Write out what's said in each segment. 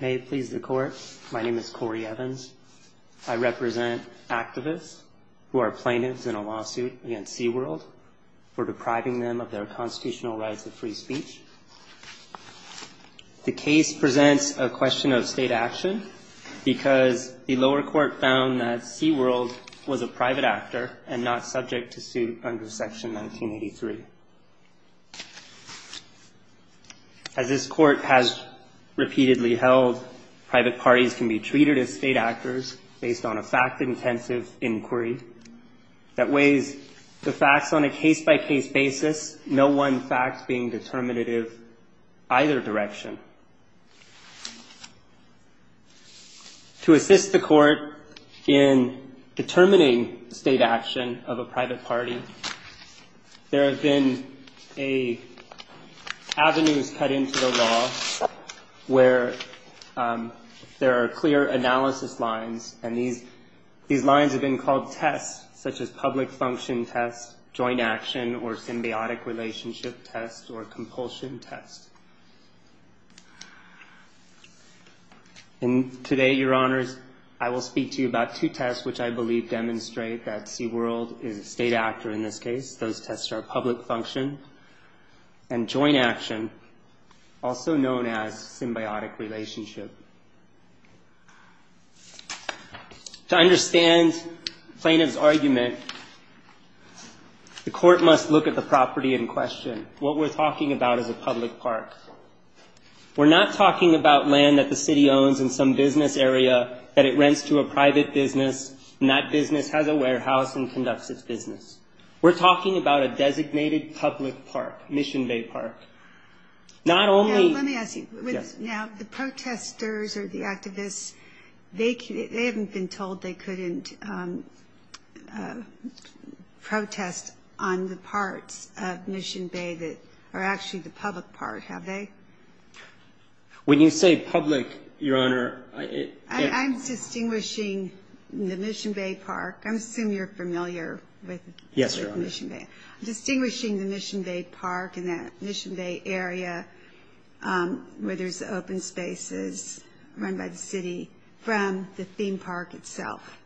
May it please the Court, my name is Corey Evans. I represent activists who are plaintiffs in a lawsuit against Sea World for depriving them of their constitutional rights of free speech. The case presents a question of state action because the lower court found that Sea World was a private actor and not subject to suit under Section 1983. As this Court has repeatedly held, private parties can be treated as state actors based on a fact-intensive inquiry that weighs the facts on a case-by-case basis, no one fact being determinative either direction. To assist the Court in determining state action of a private party, there have been avenues cut into the law where there are clear analysis lines, and these lines have been called tests, such as public function test, joint action, or symbiotic relationship test, or compulsion test. And today, Your Honors, I will speak to you about two tests which I believe demonstrate that Sea World is a state actor in this case. Those tests are public function and joint action, also known as symbiotic relationship. To understand plaintiff's argument, the Court must look at the property in question. What we're talking about is a public park. We're not talking about land that the city owns in some business area that it rents to a private business, and that business has a warehouse and conducts its business. We're talking about a designated public park, Mission Bay Park. Now, let me ask you, now, the protesters or the activists, they haven't been told they couldn't protest on the parts of Mission Bay that are actually the public part, have they? When you say public, Your Honor, I'm distinguishing the Mission Bay Park. I assume you're familiar with Mission Bay. I'm distinguishing the Mission Bay Park and that Mission Bay area where there's open spaces run by the city from the theme park itself.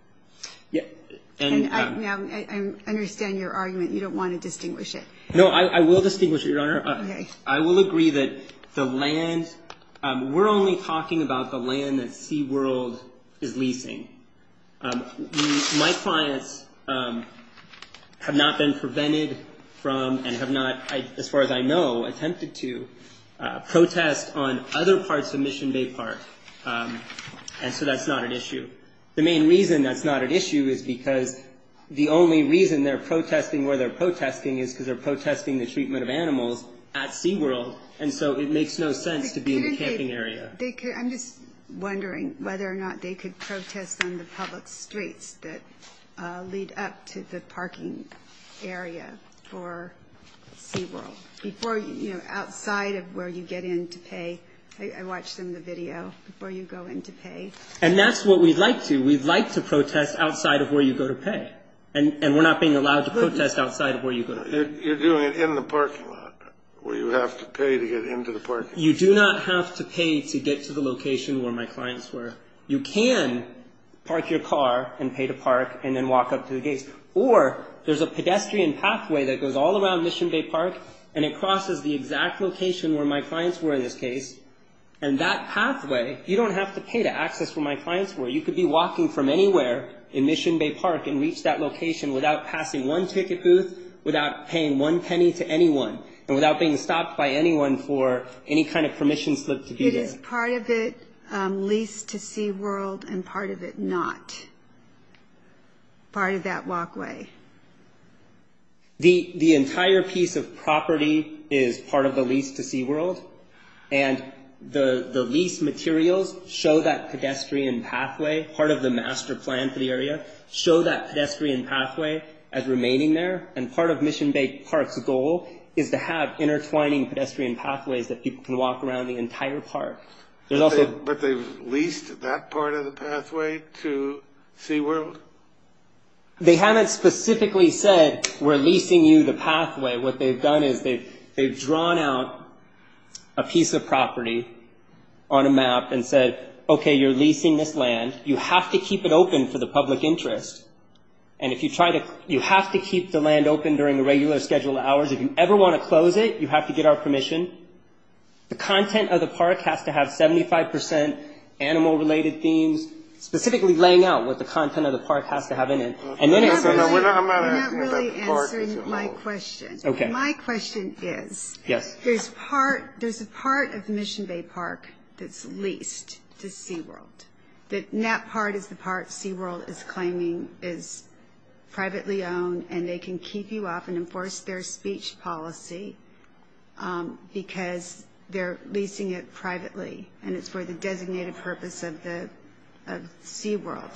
And I understand your argument. You don't want to distinguish it. No, I will distinguish it, Your Honor. I will agree that the land, we're only talking about the land that Sea World is leasing. My clients have not been prevented from and have not, as far as I know, attempted to protest on other parts of Mission Bay Park, and so that's not an issue. The main reason that's not an issue is because the only reason they're protesting where they're protesting is because they're protesting the treatment of animals at Sea World, and so it makes no sense to be in the camping area. I'm just wondering whether or not they could protest on the public streets that lead up to the parking area for Sea World before, you know, outside of where you get in to pay. I watched some of the video before you go in to pay. And that's what we'd like to. We'd like to protest outside of where you go to pay, and we're not being allowed to protest outside of where you go to pay. You're doing it in the parking lot where you have to pay to get into the parking lot. You do not have to pay to get to the location where my clients were. You can park your car and pay to park and then walk up to the gates. Or there's a pedestrian pathway that goes all around Mission Bay Park, and it crosses the exact location where my clients were in this case, and that pathway, you don't have to pay to access where my clients were. You could be walking from anywhere in Mission Bay Park and reach that location without passing one ticket booth, without paying one penny to anyone, and without being stopped by anyone for any kind of permission slip to do this. It is part of it, lease to Sea World, and part of it not. Part of that walkway. The entire piece of property is part of the lease to Sea World, and the lease materials show that pedestrian pathway, part of the master plan for the area, show that pedestrian pathway as remaining there. Part of Mission Bay Park's goal is to have intertwining pedestrian pathways that people can walk around the entire park. But they've leased that part of the pathway to Sea World? They haven't specifically said, we're leasing you the pathway. What they've done is they've drawn out a piece of property on a map and said, okay, you're leasing this land, you have to keep it open for the public interest, and you have to keep the land open during the regular scheduled hours. If you ever want to close it, you have to get our permission. The content of the park has to have 75% animal-related themes, specifically laying out what the content of the park has to have in it. I'm not really answering my question. My question is, there's a part of Mission Bay Park that's leased to Sea World, and that can keep you up and enforce their speech policy because they're leasing it privately, and it's for the designated purpose of Sea World.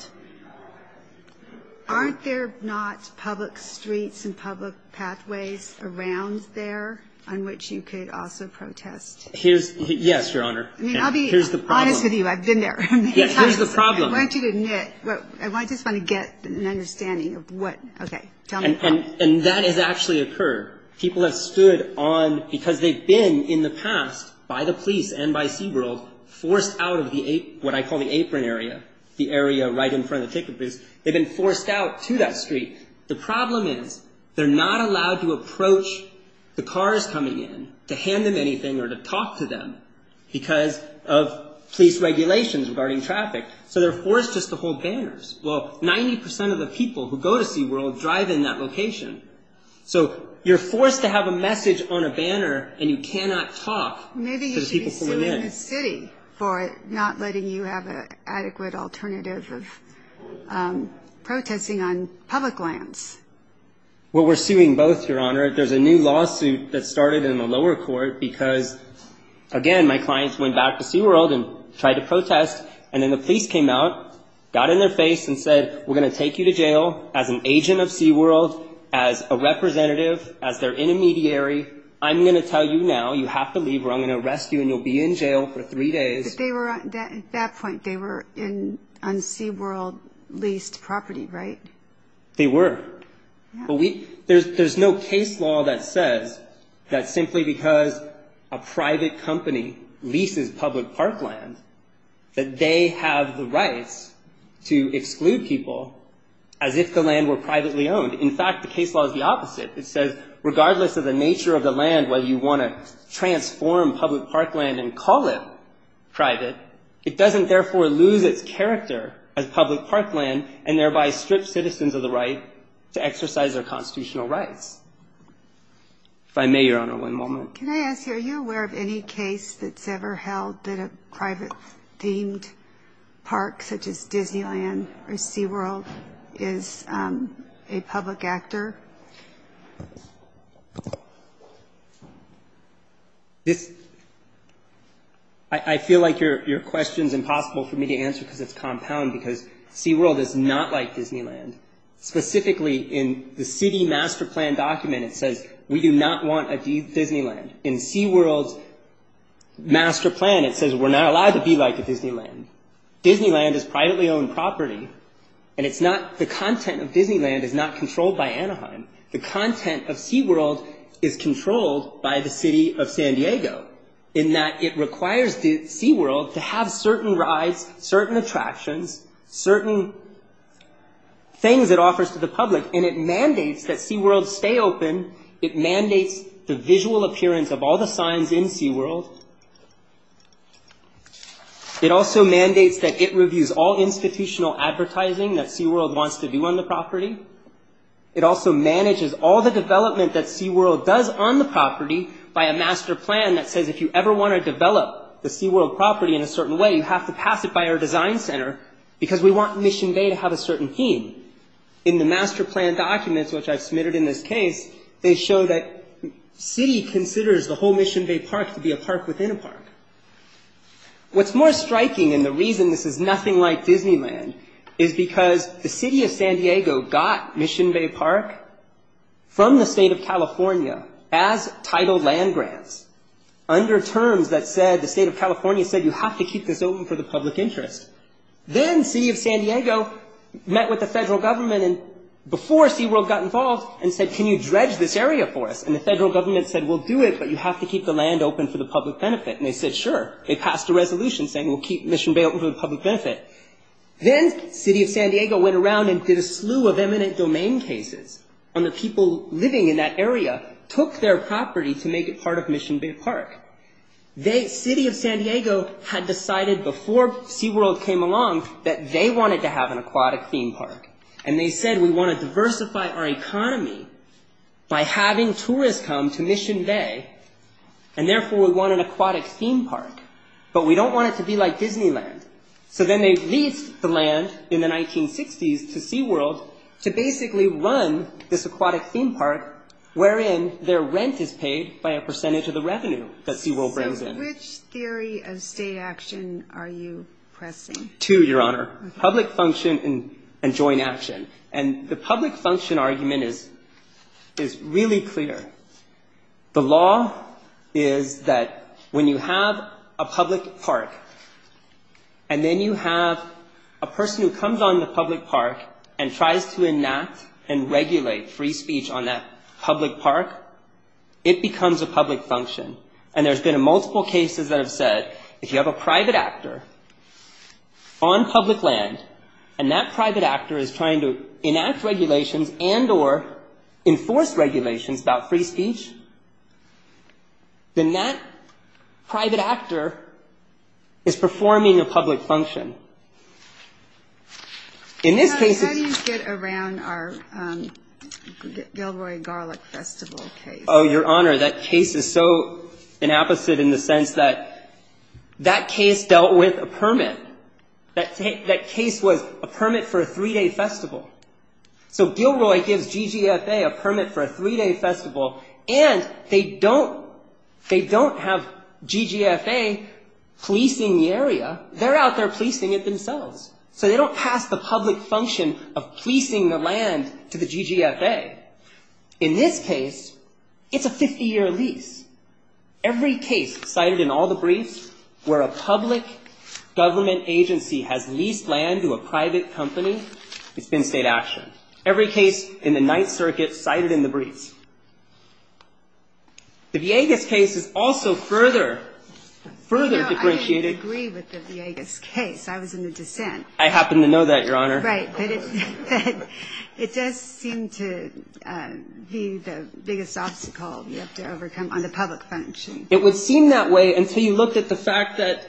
Aren't there not public streets and public pathways around there on which you could also protest? Yes, Your Honor. Here's the problem. I'll be honest with you. I've been there. Here's the problem. I want you to admit. I just want to get an understanding of what, okay, tell me how. That has actually occurred. People have stood on, because they've been in the past, by the police and by Sea World, forced out of what I call the apron area, the area right in front of the ticket booths. They've been forced out to that street. The problem is, they're not allowed to approach the cars coming in to hand them anything or to talk to them because of police regulations regarding traffic. They're forced just to hold banners. Well, 90% of the people who go to Sea World drive in that location. You're forced to have a message on a banner, and you cannot talk to the people coming in. Maybe you should be suing the city for not letting you have an adequate alternative of protesting on public lands. Well, we're suing both, Your Honor. There's a new lawsuit that started in the lower court because, again, my clients went back to Sea World and tried to protest, and then the police came out, got in their face, and said, we're going to take you to jail as an agent of Sea World, as a representative, as their intermediary. I'm going to tell you now, you have to leave, or I'm going to arrest you, and you'll be in jail for three days. At that point, they were on Sea World leased property, right? They were. There's no case law that says that simply because a private company leases public park land that they have the rights to exclude people as if the land were privately owned. In fact, the case law is the opposite. It says, regardless of the nature of the land, whether you want to transform public park land and call it private, it doesn't, therefore, lose its character as public park land, and to exercise their constitutional rights. If I may, Your Honor, one moment. Can I ask, are you aware of any case that's ever held that a private-themed park, such as Disneyland or Sea World, is a public actor? I feel like your question's impossible for me to answer because it's compound, because Sea World is not like Disneyland. Specifically, in the city master plan document, it says, we do not want a Disneyland. In Sea World's master plan, it says, we're not allowed to be like a Disneyland. Disneyland is privately owned property, and it's not, the content of Disneyland is not controlled by Anaheim. The content of Sea World is controlled by the city of San Diego, in that it requires Sea World to have certain rides, certain attractions, certain things it offers to the public, and it mandates that Sea World stay open. It mandates the visual appearance of all the signs in Sea World. It also mandates that it reviews all institutional advertising that Sea World wants to do on the property. It also manages all the development that Sea World does on the property by a master plan that says, if you ever want to develop the Sea World property in a certain way, you have to pass it by our design center, because we want Mission Bay to have a certain theme. In the master plan documents, which I've submitted in this case, they show that the city considers the whole Mission Bay Park to be a park within a park. What's more striking, and the reason this is nothing like Disneyland, is because the under terms that said, the state of California said, you have to keep this open for the public interest. Then, city of San Diego met with the federal government, and before Sea World got involved, and said, can you dredge this area for us? And the federal government said, we'll do it, but you have to keep the land open for the public benefit. And they said, sure. They passed a resolution saying, we'll keep Mission Bay open for the public benefit. Then, city of San Diego went around and did a slew of eminent domain cases on the people living in that area, took their property to make it part of Mission Bay Park. They, city of San Diego, had decided before Sea World came along that they wanted to have an aquatic theme park. And they said, we want to diversify our economy by having tourists come to Mission Bay, and therefore we want an aquatic theme park, but we don't want it to be like Disneyland. So then they leased the land in the 1960s to Sea World to basically run this aquatic theme park, wherein their rent is paid by a percentage of the revenue that Sea World brings in. So which theory of state action are you pressing? Two, Your Honor. Public function and joint action. And the public function argument is really clear. The law is that when you have a public park, and then you have a person who comes on the street and gives a free speech on that public park, it becomes a public function. And there's been multiple cases that have said, if you have a private actor on public land, and that private actor is trying to enact regulations and or enforce regulations about free speech, then that private actor is performing a public function. Now, how do you get around our Gilroy Garlic Festival case? Oh, Your Honor, that case is so inapposite in the sense that that case dealt with a permit. That case was a permit for a three-day festival. So Gilroy gives GGFA a permit for a three-day festival, and they don't have GGFA policing the area. They're out there policing it themselves. So they don't pass the public function of policing the land to the GGFA. In this case, it's a 50-year lease. Every case cited in all the briefs where a public government agency has leased land to a private company, it's been state action. Every case in the Ninth Circuit cited in the briefs. The Villegas case is also further, further differentiated. I agree with the Villegas case. I was in the dissent. I happen to know that, Your Honor. Right. It does seem to be the biggest obstacle you have to overcome on the public function. It would seem that way until you looked at the fact that,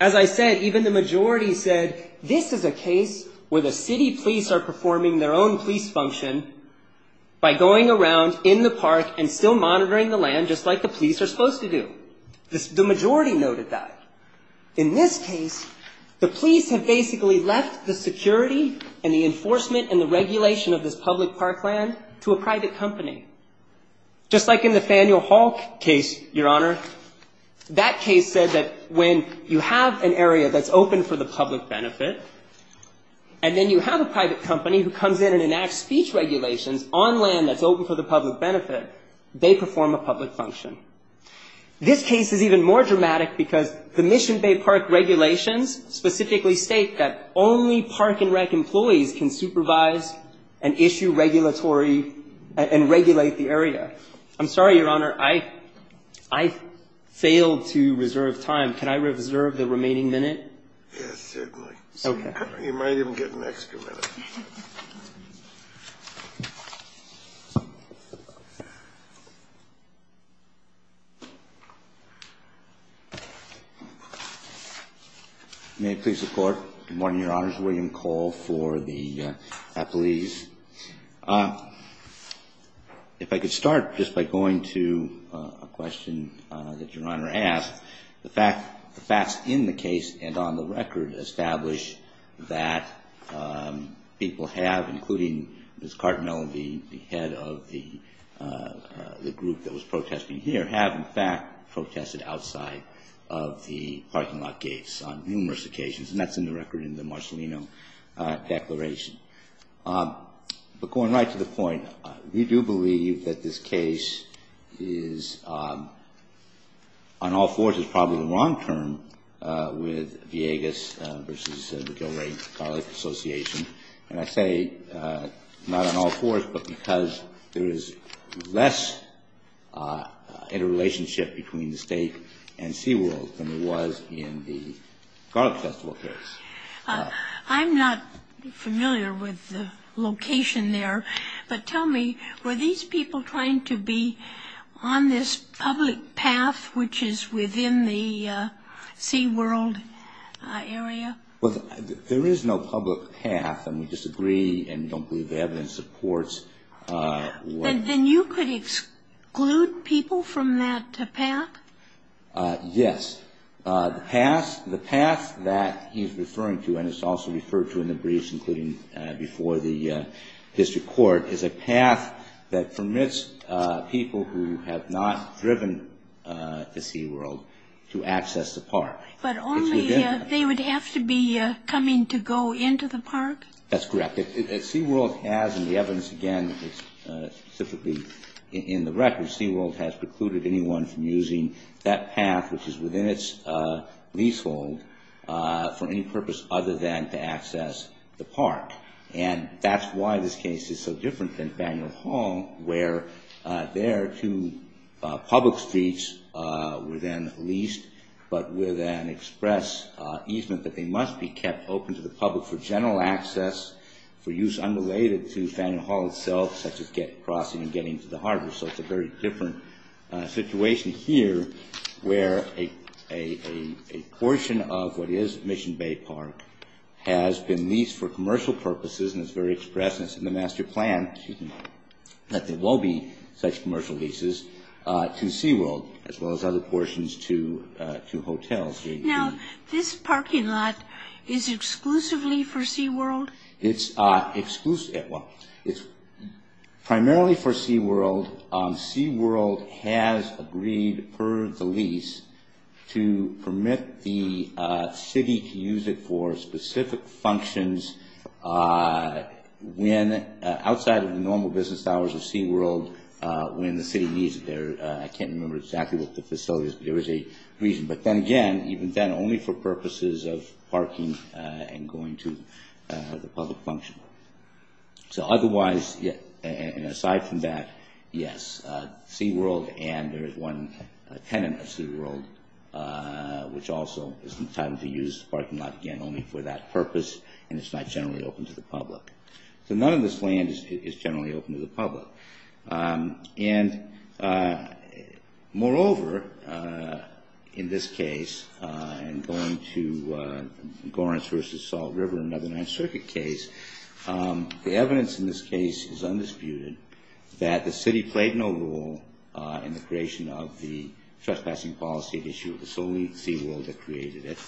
as I said, even the majority said this is a case where the city police are performing their own police function by going around in the park and still monitoring the land, just like the police are supposed to do. The majority noted that. In this case, the police have basically left the security and the enforcement and the regulation of this public park land to a private company. Just like in the Faneuil Hall case, Your Honor, that case said that when you have an area that's open for the public benefit and then you have a private company who comes in and enacts speech regulations on land that's open for the public benefit, they perform a public function. This case is even more dramatic because the Mission Bay Park regulations specifically state that only park and rec employees can supervise and issue regulatory and regulate the area. I'm sorry, Your Honor. I failed to reserve time. Can I reserve the remaining minute? Yes, certainly. Okay. You might even get an extra minute. May it please the Court, good morning, Your Honors, William Cole for the athletes. If I could start just by going to a question that Your Honor asked, the facts in the case and on the record establish that people have, including Ms. Cartmell, the head of the group that was protesting here, have in fact protested outside of the parking lot gates on numerous occasions, and that's in the record in the Marcellino Declaration. But going right to the point, we do believe that this case is on all fours is probably the wrong term with Viegas versus the Gilray Garlic Association, and I say not on all fours but because there is less interrelationship between the state and SeaWorld than there was in the garlic festival case. I'm not familiar with the location there, but tell me, were these people trying to be on this public path which is within the SeaWorld area? Well, there is no public path, and we disagree and don't believe the evidence supports what Then you could exclude people from that path? Yes. The path that he's referring to, and it's also referred to in the briefs, including before the district court, is a path that permits people who have not driven to SeaWorld to access the park. But only they would have to be coming to go into the park? That's correct. SeaWorld has, and the evidence, again, is specifically in the record, SeaWorld has precluded anyone from using that path which is within its leasehold for any purpose other than to And that's why this case is so different than Faneuil Hall, where there are two public streets were then leased, but with an express easement that they must be kept open to the public for general access, for use unrelated to Faneuil Hall itself, such as crossing and getting to the harbor. So it's a very different situation here where a portion of what is Mission Bay Park has been leased for commercial purposes, and it's very express, and it's in the master plan that there will be such commercial leases to SeaWorld, as well as other portions to hotels. Now, this parking lot is exclusively for SeaWorld? It's exclusively, well, it's primarily for SeaWorld. SeaWorld has agreed, per the lease, to permit the city to use it for specific functions outside of the normal business hours of SeaWorld when the city needs it there. I can't remember exactly what the facility is, but there is a reason. But then again, even then, only for purposes of parking and going to the public function. So otherwise, and aside from that, yes. SeaWorld and there is one tenant at SeaWorld, which also is entitled to use the parking lot again only for that purpose, and it's not generally open to the public. So none of this land is generally open to the public. And moreover, in this case, I'm going to Gorentz versus Salt River, another Ninth Circuit case. The evidence in this case is undisputed that the city played no role in the creation of the trespassing policy issue. It was only SeaWorld that created it.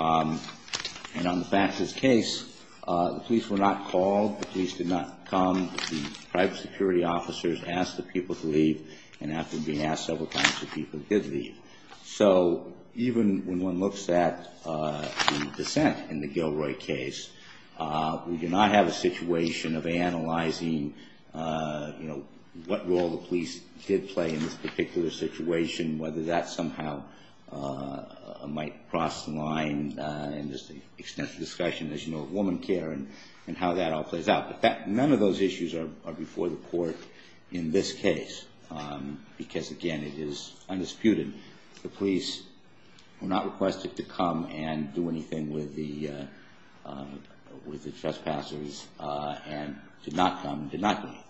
And on the back of this case, the police were not called. The police did not come. The private security officers asked the people to leave, and after being asked several times, the people did leave. So even when one looks at the dissent in the Gilroy case, we do not have a situation of analyzing, you know, what role the police did play in this particular situation, whether that somehow might cross the line in this extensive discussion, as you know, of woman care and how that all plays out. None of those issues are before the court in this case because, again, it is undisputed. The police were not requested to come and do anything with the trespassers and did not come, did not do anything.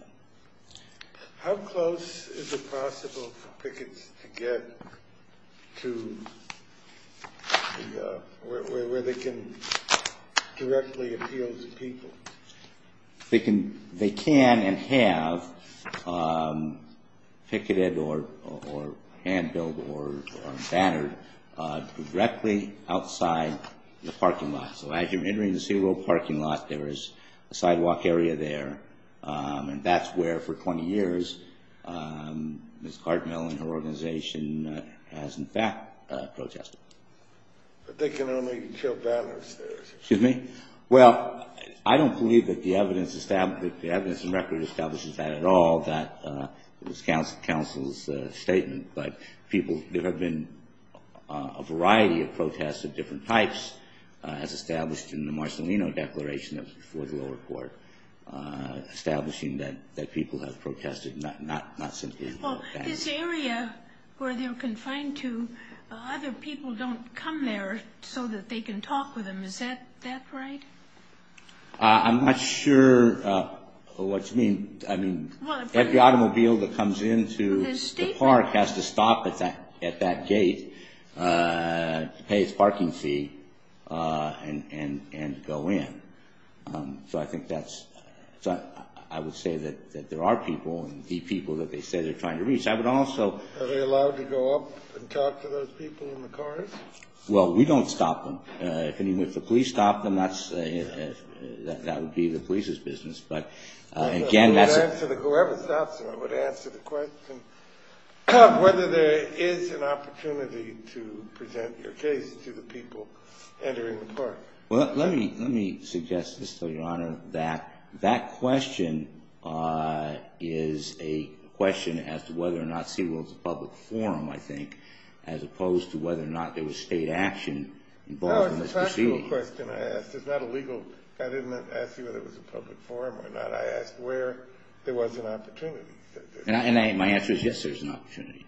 How close is it possible for pickets to get to where they can directly appeal to people? They can and have picketed or hand-billed or bannered directly outside the parking lot. So as you're entering the Seaworld parking lot, there is a sidewalk area there, and that's where, for 20 years, Ms. Cartmill and her organization has, in fact, protested. But they can only kill banners there. Excuse me? Well, I don't believe that the evidence and record establishes that at all. That was counsel's statement. There have been a variety of protests of different types, as established in the Marcelino Declaration that was before the lower court, establishing that people have protested, not simply banners. Well, this area where they're confined to, other people don't come there so that they can talk with them. Is that right? I'm not sure what you mean. Every automobile that comes into the park has to stop at that gate to pay its parking fee and go in. So I think that's... I would say that there are people, and the people that they say they're trying to reach. I would also... Are they allowed to go up and talk to those people in the cars? Well, we don't stop them. Even if the police stop them, that would be the police's business. Whoever stops them, I would answer the question whether there is an opportunity to present your case to the people entering the park. Well, let me suggest, Mr. Your Honor, that that question is a question as to whether or not SeaWorld is a public forum, I think, as opposed to whether or not there was state action involved in this proceeding. No, it's a factual question I asked. It's not a legal... I didn't ask you whether it was a public forum or not. I asked where there was an opportunity. And my answer is yes, there's an opportunity.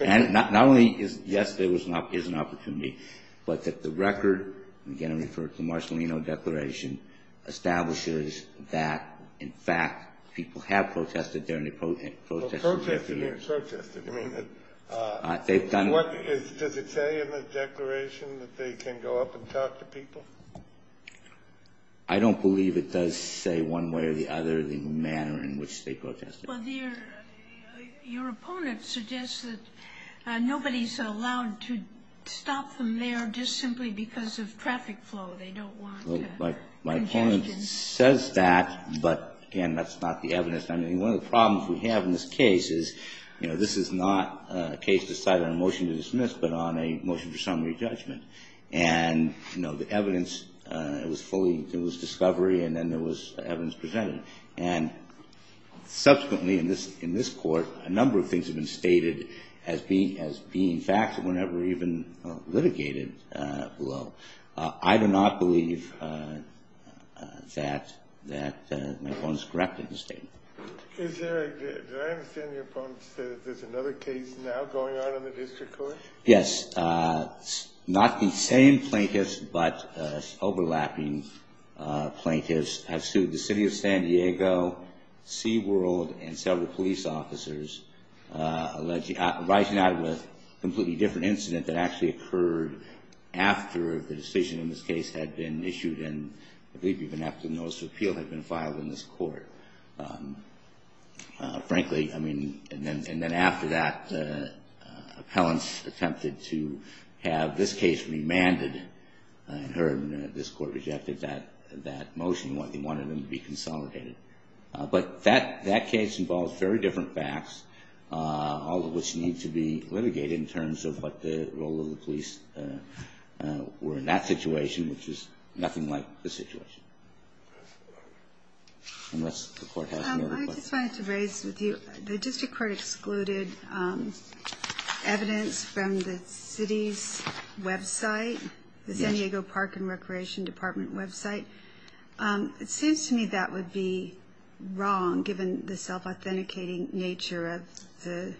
Not only is yes, there is an opportunity, but that the record, again, I'm referring to the Marcellino Declaration, establishes that, in fact, people have protested during the protest. Protested. Protested. You mean that... They've done... Does it say in the declaration that they can go up and talk to people? I don't believe it does say one way or the other the manner in which they protested. Well, your opponent suggests that nobody's allowed to stop them there just simply because of traffic flow. They don't want to... My opponent says that, but, again, that's not the evidence. I mean, one of the problems we have in this case is, you know, this is not a case decided on a motion to dismiss, but on a motion for summary judgment. And, you know, the evidence, it was fully... It was discovery, and then there was evidence presented. And, subsequently, in this court, a number of things have been stated as being facts that were never even litigated below. I do not believe that my opponent is correct in his statement. Is there a... Do I understand your opponent to say that there's another case now going on in the district court? Yes. Not the same plaintiffs, but overlapping plaintiffs have sued the city of San Diego, Seaworld, and several police officers, rising out with a completely different incident that actually occurred after the decision in this case had been issued, and I believe even after the notice of appeal had been filed in this court. Frankly, I mean... And then after that, appellants attempted to have this case remanded, and this court rejected that motion. They wanted them to be consolidated. But that case involves very different facts, all of which need to be litigated in terms of what the role of the police were in that situation, which is nothing like the situation. Unless the court has another question. I just wanted to raise with you, the district court excluded evidence from the city's website, the San Diego Park and Recreation Department website. It seems to me that would be wrong, given the self-authenticating nature of the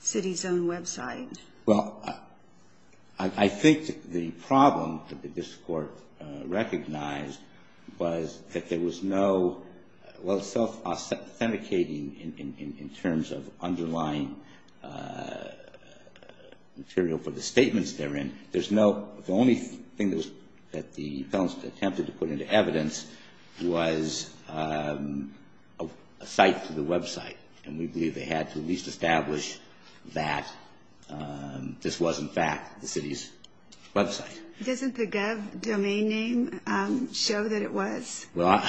city's own website. Well, I think the problem that the district court recognized was that there was no... Well, self-authenticating in terms of underlying material for the statements therein, there's no... The only thing that the appellants attempted to put into evidence was a site for the website, and we believe they had to at least establish that this was, in fact, the city's website. Doesn't the Gov domain name show that it was? Well,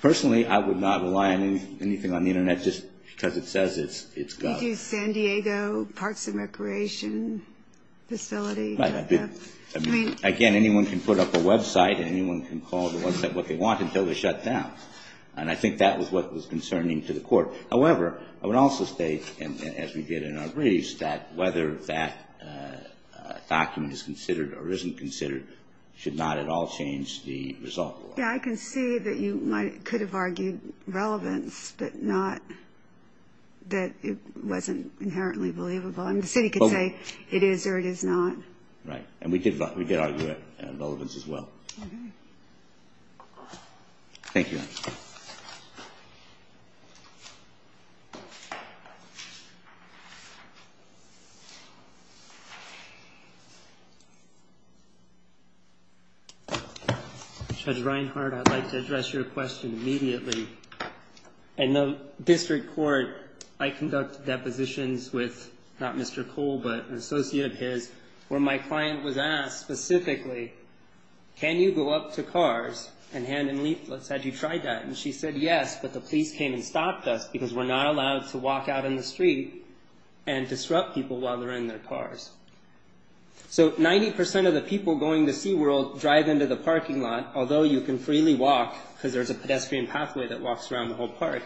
personally, I would not rely on anything on the internet just because it says it's Gov. Did you say San Diego Parks and Recreation Facility? Again, anyone can put up a website, and anyone can call the website what they want until they shut down. And I think that was what was concerning to the court. However, I would also state, as we did in our briefs, that whether that document is considered or isn't considered should not at all change the result. Yeah, I can see that you could have argued relevance, but not that it wasn't inherently believable. I mean, the city could say it is or it is not. Right, and we did argue it in relevance as well. Thank you. Thank you. Judge Reinhart, I'd like to address your question immediately. In the district court, I conduct depositions with not Mr. Cole, but an associate of his, where my client was asked specifically, can you go up to cars and hand in leaflets? Had you tried that? And she said yes, but the police came and stopped us because we're not allowed to walk out in the street and disrupt people while they're in their cars. So 90% of the people going to SeaWorld drive into the parking lot, although you can freely walk, because there's a pedestrian pathway that walks around the whole park.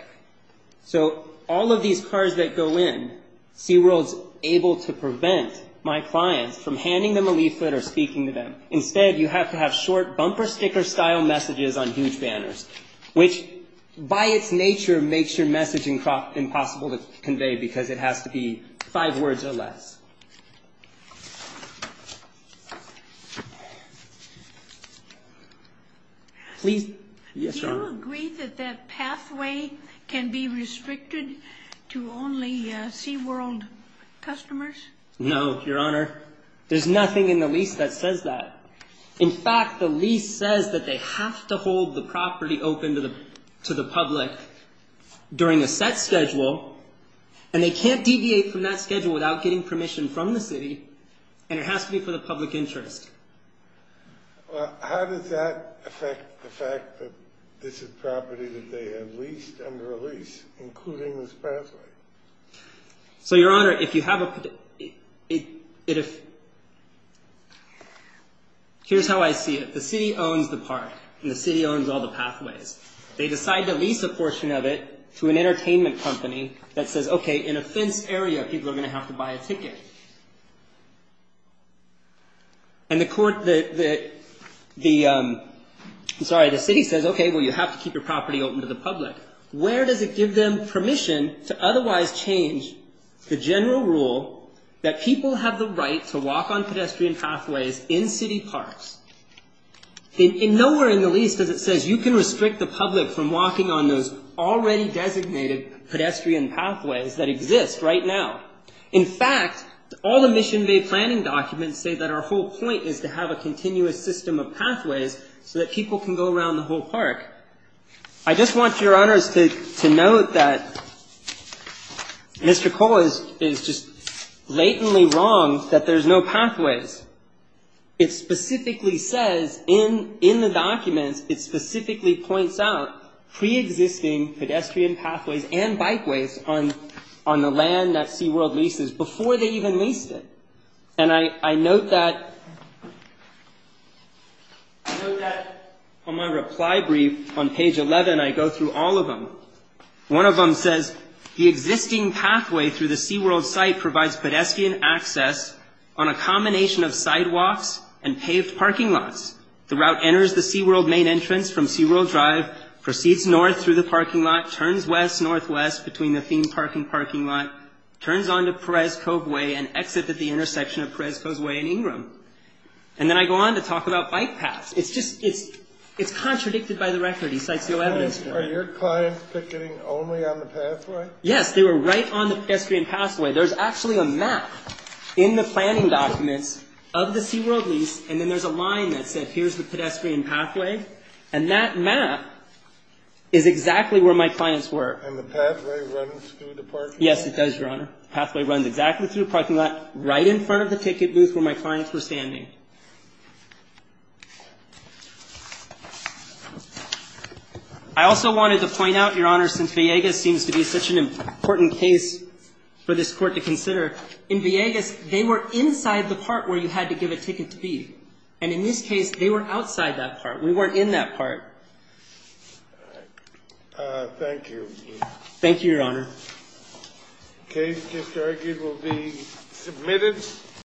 So all of these cars that go in, SeaWorld's able to prevent my clients from handing them a leaflet or speaking to them. Instead, you have to have short bumper sticker style messages on huge banners, which by its nature makes your messaging impossible to convey because it has to be five words or less. Please. Yes, Your Honor. Do you agree that that pathway can be restricted to only SeaWorld customers? No, Your Honor. There's nothing in the lease that says that. In fact, the lease says that they have to hold the property open to the public during a set schedule, and they can't deviate from that schedule without getting permission from the city, and it has to be for the public interest. Well, how does that affect the fact that this is property that they have leased under a lease, including this pathway? So, Your Honor, if you have a... Here's how I see it. The city owns the park, and the city owns all the pathways. They decide to lease a portion of it to an entertainment company that says, okay, in a fenced area, people are going to have to buy a ticket. I'm sorry, the city says, okay, well, you have to keep your property open to the public. Where does it give them permission to otherwise change the general rule that people have the right to walk on pedestrian pathways in city parks? Nowhere in the lease does it say you can restrict the public from walking on those already designated pedestrian pathways that exist right now. In fact, all the Mission Bay planning documents say that our whole point is to have a continuous system of pathways so that people can go around the whole park. I just want Your Honors to note that Mr. Cole is just blatantly wrong that there's no pathways. It specifically says in the documents, it specifically points out pre-existing pedestrian pathways and bikeways on the land that SeaWorld leases before they even leased it. And I note that on my reply brief on page 11, I go through all of them. One of them says, the existing pathway through the SeaWorld site provides pedestrian access on a combination of sidewalks and paved parking lots. The route enters the SeaWorld main entrance from SeaWorld Drive, proceeds north through the parking lot, turns west-northwest between the theme park and parking lot, turns onto Perez Cove Way and exits at the intersection of Perez Cove Way and Ingram. And then I go on to talk about bike paths. It's just, it's contradicted by the record. He cites the old evidence. Are your clients picketing only on the pathway? Yes, they were right on the pedestrian pathway. There's actually a map in the planning documents of the SeaWorld lease, and then there's a line that said, here's the pedestrian pathway. And the pathway runs through the parking lot? Yes, it does, Your Honor. The pathway runs exactly through the parking lot, right in front of the ticket booth where my clients were standing. I also wanted to point out, Your Honor, since Villegas seems to be such an important case for this Court to consider, in Villegas, they were inside the part where you had to give a ticket to be. And in this case, they were outside that part. We weren't in that part. Thank you. Thank you, Your Honor. The case, it's argued, will be submitted.